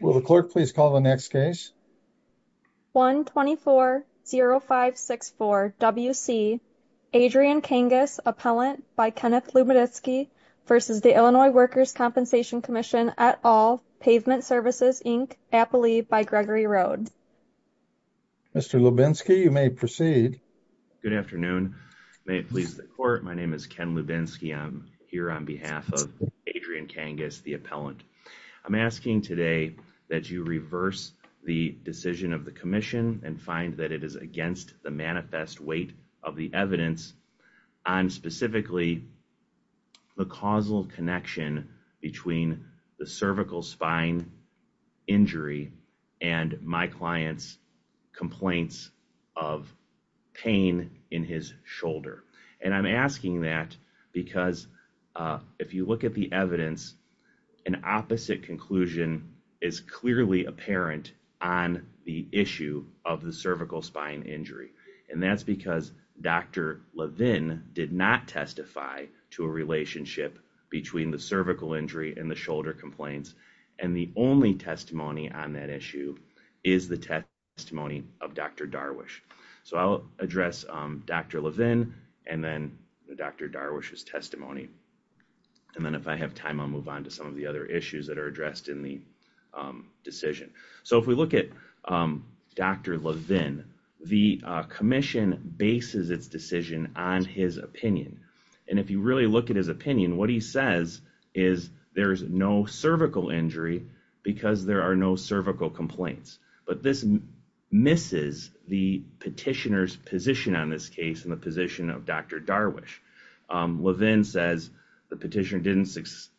Will the clerk please call the next case? 1240564 W.C. Adrian Cangas, Appellant by Kenneth Lubitsky v. Illinois Workers' Compensation Comm'n at All, Pavement Services, Inc., Appalee by Gregory Road. Mr. Lubinsky, you may proceed. Good afternoon. May it please the court, my name is Ken Lubinsky. I'm here on behalf of Adrian Cangas, the appellant. I'm asking today that you reverse the decision of the commission and find that it is against the manifest weight of the evidence on specifically the causal connection between the cervical spine injury and my client's complaints of pain in his shoulder. And I'm asking that because if you look at the evidence, an opposite conclusion is clearly apparent on the issue of the cervical spine injury. And that's because Dr. Levin did not testify to a relationship between the cervical injury and the shoulder complaints. And the only testimony on that issue is the testimony of Dr. Darwish. So I'll address Dr. Levin and then Dr. Darwish's testimony. And then if I have time, I'll move on to some of the other issues that are addressed in the decision. So if we look at Dr. Levin, the commission bases its decision on his opinion. And if you really look at his opinion, what he says is there's no cervical injury because there are no cervical complaints. But this misses the petitioner's position on this case and the position of Dr. Darwish. Levin says the petitioner didn't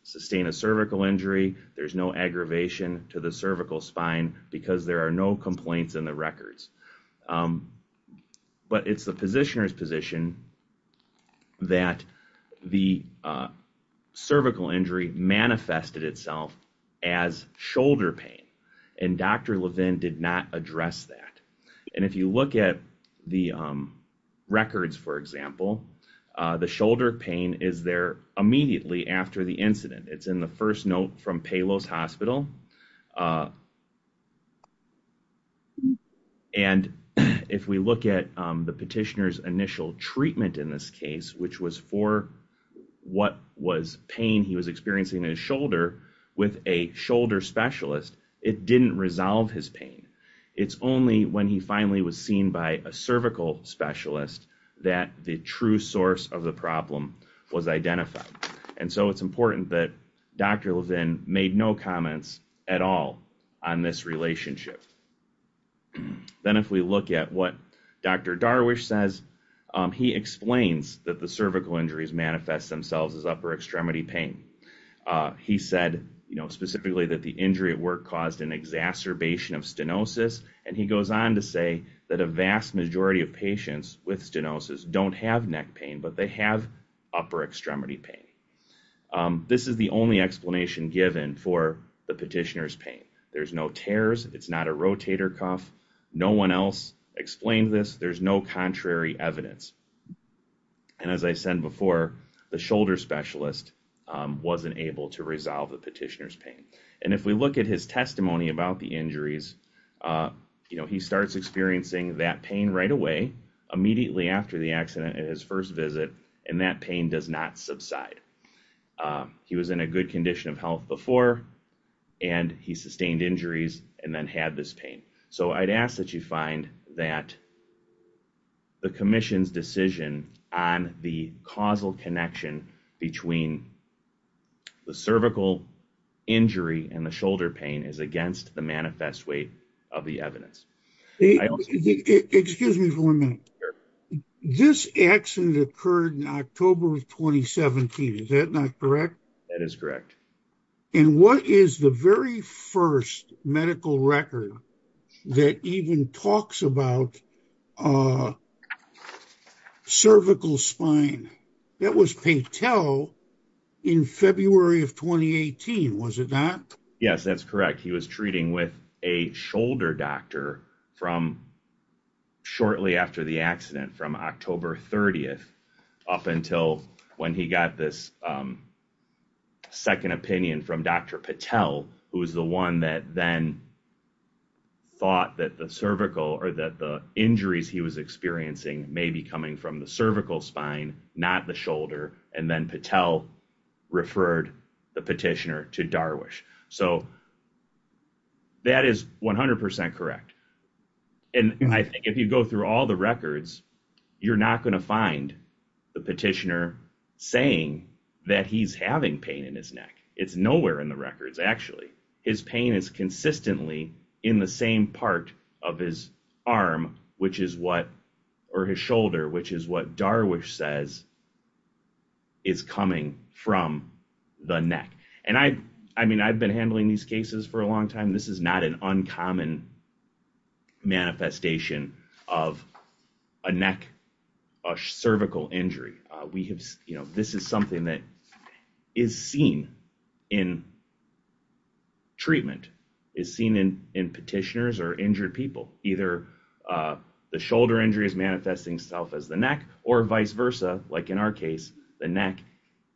sustain a cervical injury. There's no aggravation to the cervical spine because there are no complaints in the records. But it's the And Dr. Levin did not address that. And if you look at the records, for example, the shoulder pain is there immediately after the incident. It's in the first note from Palos Hospital. And if we look at the petitioner's initial treatment in this case, which was for what was pain he was experiencing in his shoulder with a shoulder specialist, it didn't resolve his pain. It's only when he finally was seen by a cervical specialist that the true source of the problem was identified. And so it's important that Dr. Levin made no comments at all on this relationship. Then if we look at what Dr. Darwish says, he explains that the cervical injuries manifest themselves as upper extremity pain. He said, you know, specifically that the injury at work caused an exacerbation of stenosis. And he goes on to say that a vast majority of patients with stenosis don't have neck pain, but they have upper extremity pain. This is the only explanation given for the petitioner's pain. There's no tears. It's not a rotator cuff. No one else explained this. There's no contrary evidence. And as I said before, the shoulder specialist wasn't able to resolve the petitioner's pain. And if we look at his testimony about the injuries, you know, he starts experiencing that pain right away, immediately after the accident at his first visit, and that pain does not subside. He was in a good condition of health before, and he sustained injuries and then had this pain. So I'd ask that you find that the commission's decision on the causal connection between the cervical injury and the shoulder pain is against the manifest weight of the evidence. Excuse me for a minute. This accident occurred in October of 2017. Is that not correct? That is correct. And what is the very first medical record that even talks about cervical spine? That was Patel in February of 2018, was it not? Yes, that's correct. He was treating with a shoulder doctor from shortly after the accident, from October 30th up until when he got this second opinion from Dr. Patel, who was the one that then thought that the cervical or that the injuries he was experiencing may be coming from the cervical so that is 100% correct. And I think if you go through all the records, you're not going to find the petitioner saying that he's having pain in his neck. It's nowhere in the records. Actually, his pain is consistently in the same part of his arm, which is what or his shoulder, which is what Darwish says is coming from the neck. And I mean, I've been handling these cases for a long time. This is not an uncommon manifestation of a neck or cervical injury. We have, you know, this is something that is seen in treatment, is seen in petitioners or either the shoulder injury is manifesting itself as the neck or vice versa. Like in our case, the neck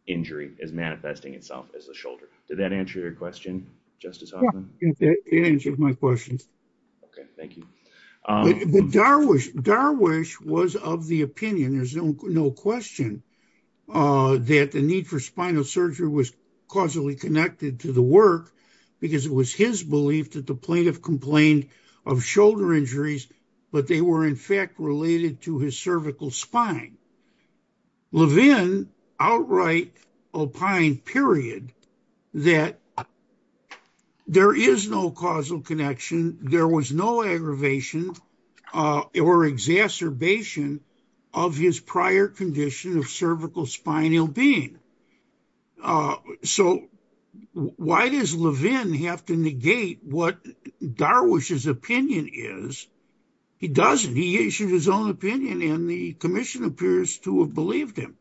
injury is manifesting itself as a shoulder. Did that answer your question, Justice Hoffman? Yes, it answered my question. Okay, thank you. Darwish was of the opinion, there's no question, that the need for spinal surgery was causally connected to the work, because it was his belief that the plaintiff complained of shoulder injuries, but they were in fact related to his cervical spine. Levin outright opined, period, that there is no causal connection, there was no aggravation or exacerbation of his prior condition of cervical spinal being. So why does Levin have to negate what Darwish's opinion is? He doesn't, he issued his own opinion and the commission appears to have believed him.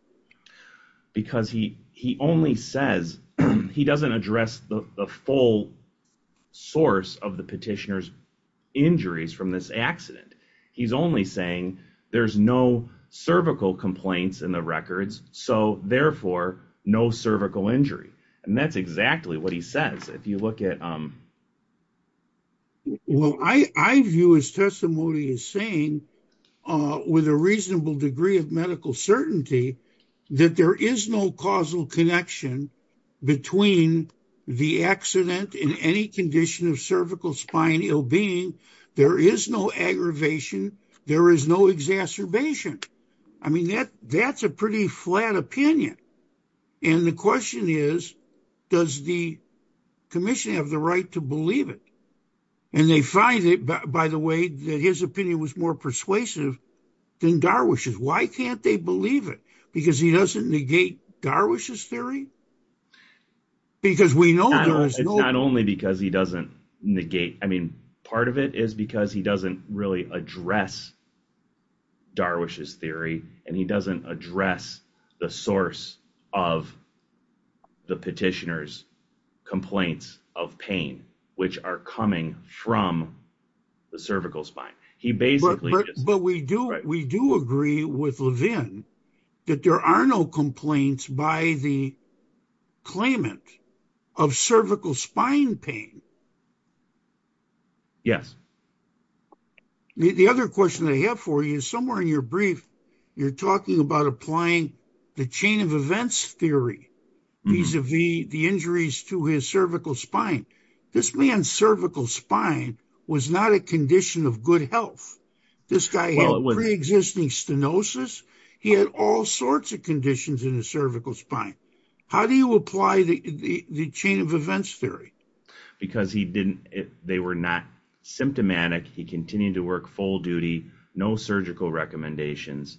Because he only says, he doesn't address the full source of the petitioner's injuries from this accident. He's only saying, there's no cervical complaints in the records, so therefore, no cervical injury. And that's exactly what he says, if you look at... Well, I view his testimony as saying, with a reasonable degree of medical condition of cervical spinal being, there is no aggravation, there is no exacerbation. I mean, that's a pretty flat opinion. And the question is, does the commission have the right to believe it? And they find it, by the way, that his opinion was more persuasive than Darwish's. Why can't they believe it? Because he doesn't negate Darwish's theory? Because we know... It's not only because he doesn't negate, I mean, part of it is because he doesn't really address Darwish's theory, and he doesn't address the source of the petitioner's complaints of pain, which are coming from the cervical spine. He basically... But we do agree with Levin that there are no complaints by the claimant of cervical spine pain. Yes. The other question I have for you, somewhere in your brief, you're talking about applying the chain of events theory, vis-a-vis the injuries to his cervical spine. This man's cervical spine was not a condition of good health. This guy had pre-existing stenosis. He had all sorts of conditions in his cervical spine. How do you apply the chain of events theory? Because they were not symptomatic. He continued to work full duty, no surgical recommendations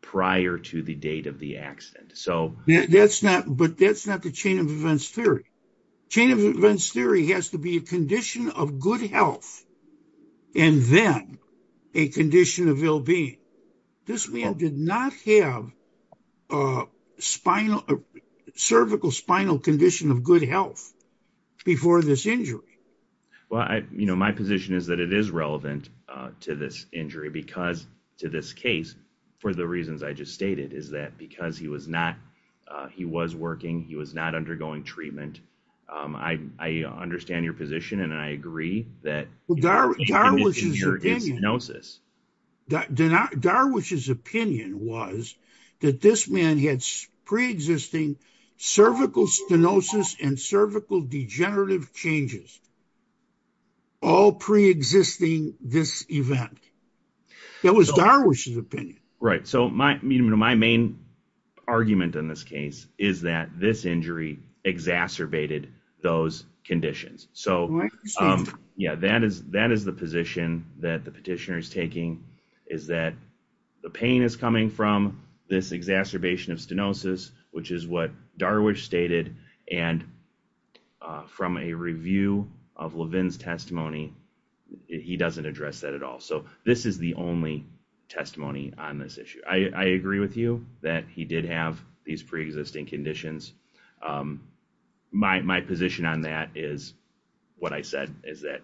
prior to the date of the accident. But that's not the chain of events theory. Chain of events theory has to be a and then a condition of ill-being. This man did not have a cervical spinal condition of good health before this injury. Well, my position is that it is relevant to this injury because to this case, for the reasons I just stated, is that because he was not, he was working, he was not undergoing treatment. I understand your position and I agree that... Well, Darwish's opinion... Darwish's opinion was that this man had pre-existing cervical stenosis and cervical degenerative changes, all pre-existing this event. That was Darwish's opinion. Right. So, my main argument in this case is that this injury exacerbated those conditions. So, yeah, that is the position that the petitioner is taking, is that the pain is coming from this exacerbation of stenosis, which is what Darwish stated. And from a review of Levin's testimony, he doesn't address that at all. So, this is the only testimony on this issue. I agree with you that he did have these pre-existing conditions. My position on that is what I said, is that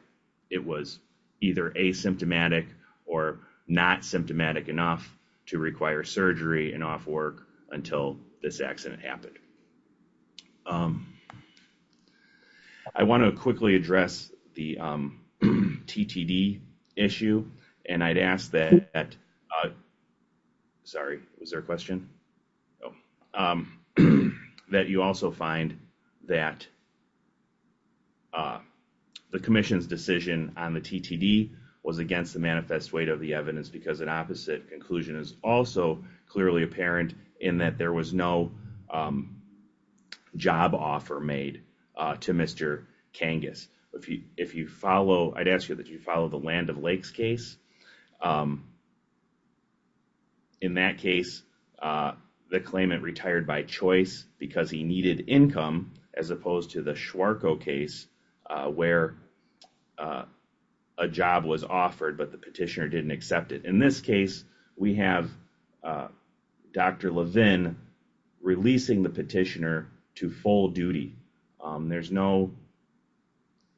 it was either asymptomatic or not symptomatic enough to require surgery and work until this accident happened. I want to quickly address the TTD issue. And I'd ask that, sorry, was there a question? No. That you also find that the commission's decision on the TTD was against the manifest weight of the evidence because an conclusion is also clearly apparent in that there was no job offer made to Mr. Kangas. If you follow, I'd ask you that you follow the Land of Lakes case. In that case, the claimant retired by choice because he needed income as opposed to the case where a job was offered, but the petitioner didn't accept it. In this case, we have Dr. Levin releasing the petitioner to full duty. There's no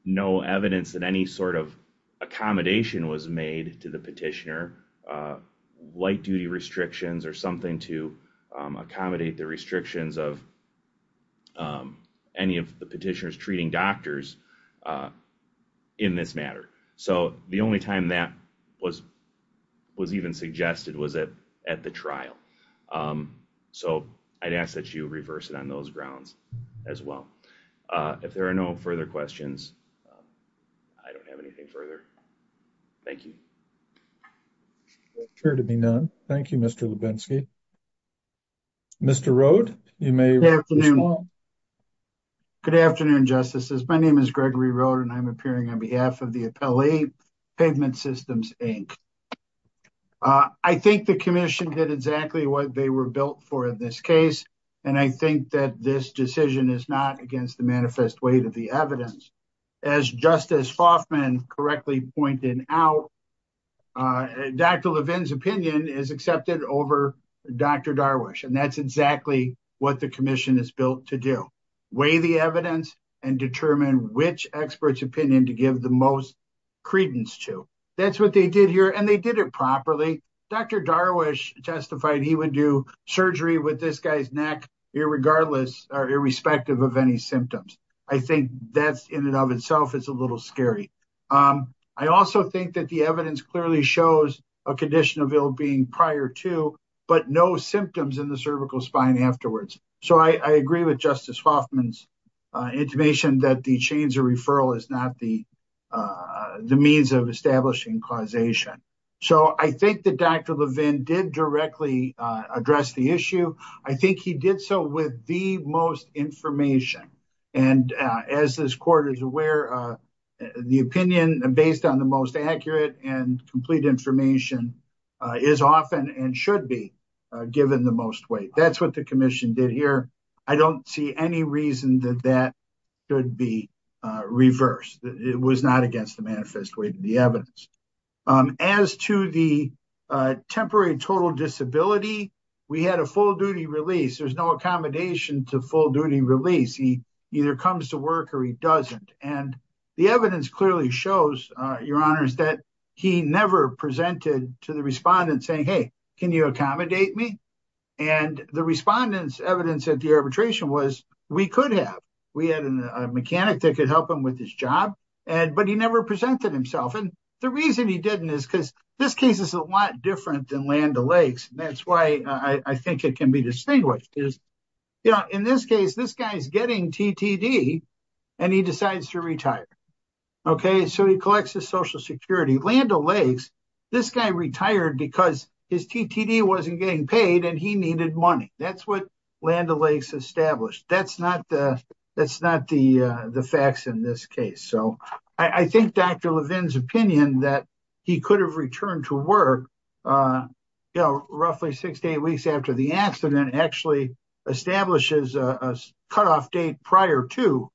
evidence that any sort of accommodation was made to the petitioner, light duty restrictions or something to accommodate the restrictions of any of the petitioners treating doctors in this matter. So the only time that was even suggested was at the trial. So I'd ask that you reverse it on those grounds as well. If there are no further questions, I don't have anything further. Thank you. Clear to be none. Thank you, Mr. Lubensky. Mr. Rode, you may. Good afternoon, Justices. My name is Gregory Rode and I'm appearing on behalf of the Appellee Pavement Systems, Inc. I think the commission did exactly what they were built for in this case, and I think that this decision is not against the manifest weight of the evidence. As Justice Foffman correctly pointed out, Dr. Levin's opinion is accepted over Dr. Darwish, and that's exactly what the commission is built to do. Weigh the evidence and determine which expert's opinion to give the most credence to. That's what they did here, and they did it properly. Dr. Darwish testified he would do surgery with this guy's neck irrespective of symptoms. I think that in and of itself is a little scary. I also think that the evidence clearly shows a condition of ill-being prior to, but no symptoms in the cervical spine afterwards. So I agree with Justice Foffman's intimation that the chains of referral is not the means of establishing causation. So I think that Dr. Levin did directly address the issue. I think he did so with the most information, and as this court is aware, the opinion based on the most accurate and complete information is often and should be given the most weight. That's what the commission did here. I don't see any reason that that could be reversed. It was not against the manifest way to the evidence. As to the temporary total disability, we had a full-duty release. There's no accommodation to full-duty release. He either comes to work or he doesn't, and the evidence clearly shows, Your Honors, that he never presented to the respondent saying, hey, can you accommodate me? And the respondent's evidence at the arbitration was we could have. We had a mechanic that could help him with his job, but he never presented himself. The reason he didn't is because this case is a lot different than Land O'Lakes. That's why I think it can be distinguished. In this case, this guy's getting TTD and he decides to retire. So he collects his Social Security. Land O'Lakes, this guy retired because his TTD wasn't getting paid and he needed money. That's what Land O'Lakes established. That's not the facts in this case. I think Dr. Levin's opinion that he could have returned to work roughly six to eight weeks after the accident actually establishes a cutoff date prior to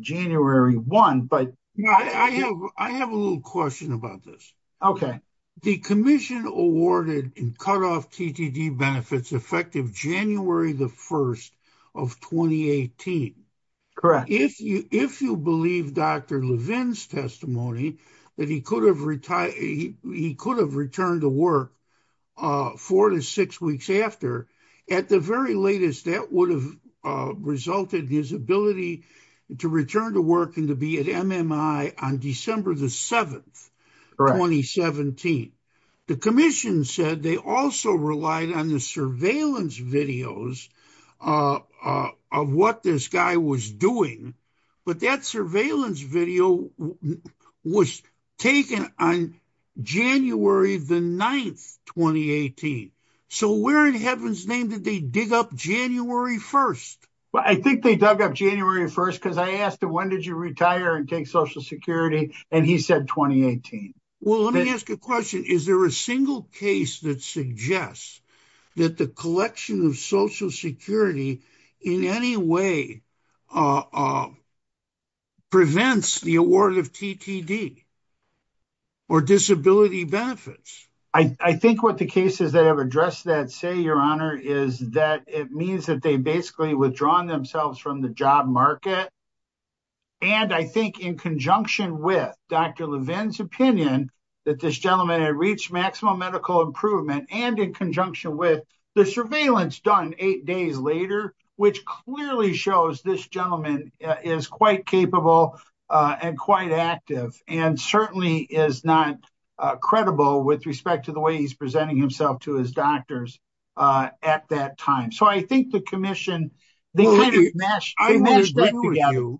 January 1. I have a little question about this. The commission awarded and cut off TTD benefits effective January the 1st of 2018. If you believe Dr. Levin's testimony that he could have returned to work four to six weeks after, at the very latest, that would have resulted in his ability to return to be at MMI on December the 7th, 2017. The commission said they also relied on the surveillance videos of what this guy was doing, but that surveillance video was taken on January the 9th, 2018. So where in heaven's name did they dig up January 1st? I think they dug up January 1st because I asked, when did you retire and take Social Security? And he said 2018. Well, let me ask a question. Is there a single case that suggests that the collection of Social Security in any way prevents the award of TTD or disability benefits? I think what the cases that have addressed that say, your honor, is that it means that they've withdrawn themselves from the job market. And I think in conjunction with Dr. Levin's opinion that this gentleman had reached maximum medical improvement and in conjunction with the surveillance done eight days later, which clearly shows this gentleman is quite capable and quite active and certainly is not credible with respect to the way he's presenting himself to his doctors at that time. So I think the commission, they kind of meshed that together.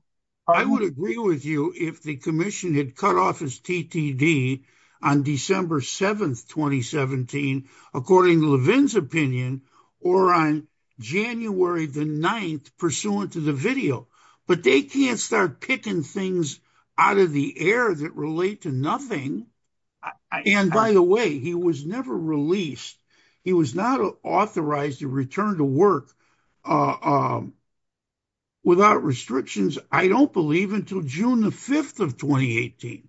I would agree with you if the commission had cut off his TTD on December 7th, 2017, according to Levin's opinion, or on January the 9th pursuant to the video, but they can't start picking things out of the air that relate to nothing. And by the way, he was never released. He was not authorized to return to work without restrictions, I don't believe, until June the 5th of 2018.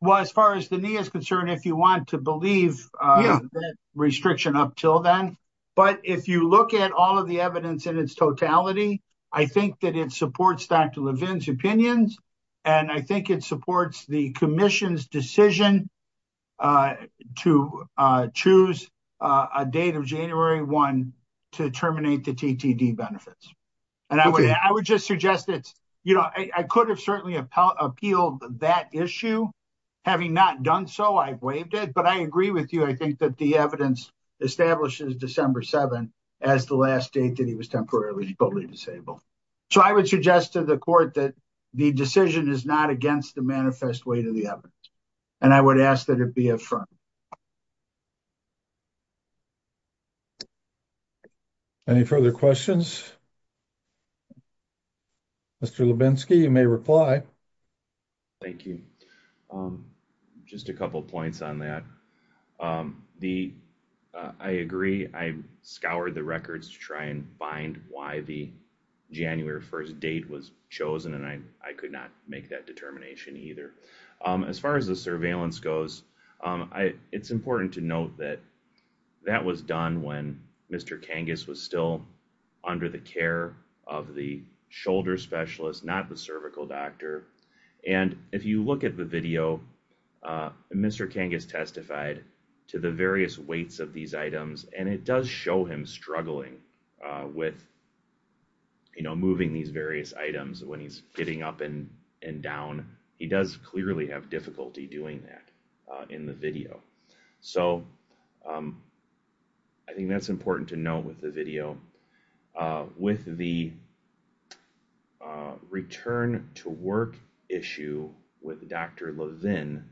Well, as far as the knee is concerned, if you want to believe restriction up till then, but if you look at all of the evidence in its totality, I think that it supports Dr. Levin's and I think it supports the commission's decision to choose a date of January 1 to terminate the TTD benefits. And I would just suggest that I could have certainly appealed that issue. Having not done so, I've waived it, but I agree with you. I think that the evidence establishes December 7th as the last date that he was temporarily fully disabled. So, I would suggest to the court that the decision is not against the manifest weight of the evidence, and I would ask that it be affirmed. Any further questions? Mr. Lubinsky, you may reply. Thank you. Just a couple of points on that. I agree, I scoured the records to try and find why the January 1 date was chosen, and I could not make that determination either. As far as the surveillance goes, it's important to note that that was done when Mr. Kangas was still under the care of the shoulder specialist, not the cervical doctor. And if you look at the video, Mr. Kangas testified to the various weights of these items, and it does show him struggling with, you know, moving these various items when he's getting up and down. He does clearly have difficulty doing that in the video. So, I think that's important to note with the video. With the return to work issue with Dr. Levin,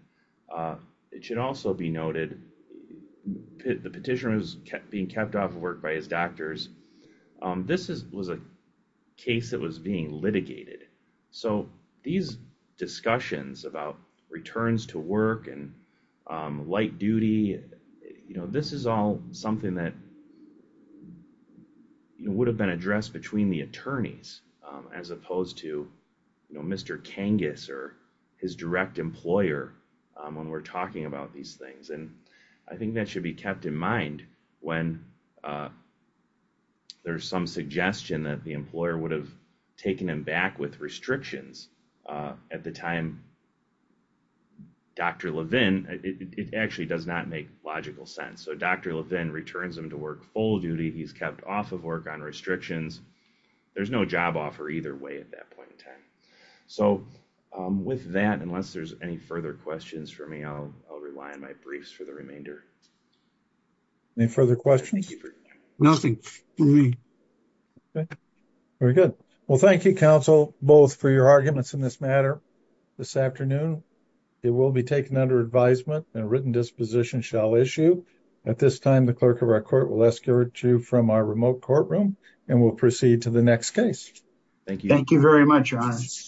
it should also be noted, the petitioner was kept being kept off work by his doctors. This was a case that was being litigated. So, these discussions about returns to work and light duty, you know, this is all something that would have been addressed between the attorneys as opposed to, you know, Mr. Kangas or his direct employer when we're talking about these things. And I think that should be kept in mind when there's some suggestion that the employer would have taken him back with restrictions at the time. Dr. Levin, it actually does not make logical sense. So, Dr. Levin returns him to work full duty. He's kept off of work on restrictions. There's no job offer either way at that point in time. So, with that, unless there's any further questions for me, I'll rely on my briefs for the remainder. Any further questions? Nothing for me. Very good. Well, thank you, counsel, both for your arguments in this matter this afternoon. It will be taken under advisement and written disposition shall issue. At this time, the clerk of our court will from our remote courtroom, and we'll proceed to the next case. Thank you. Thank you very much.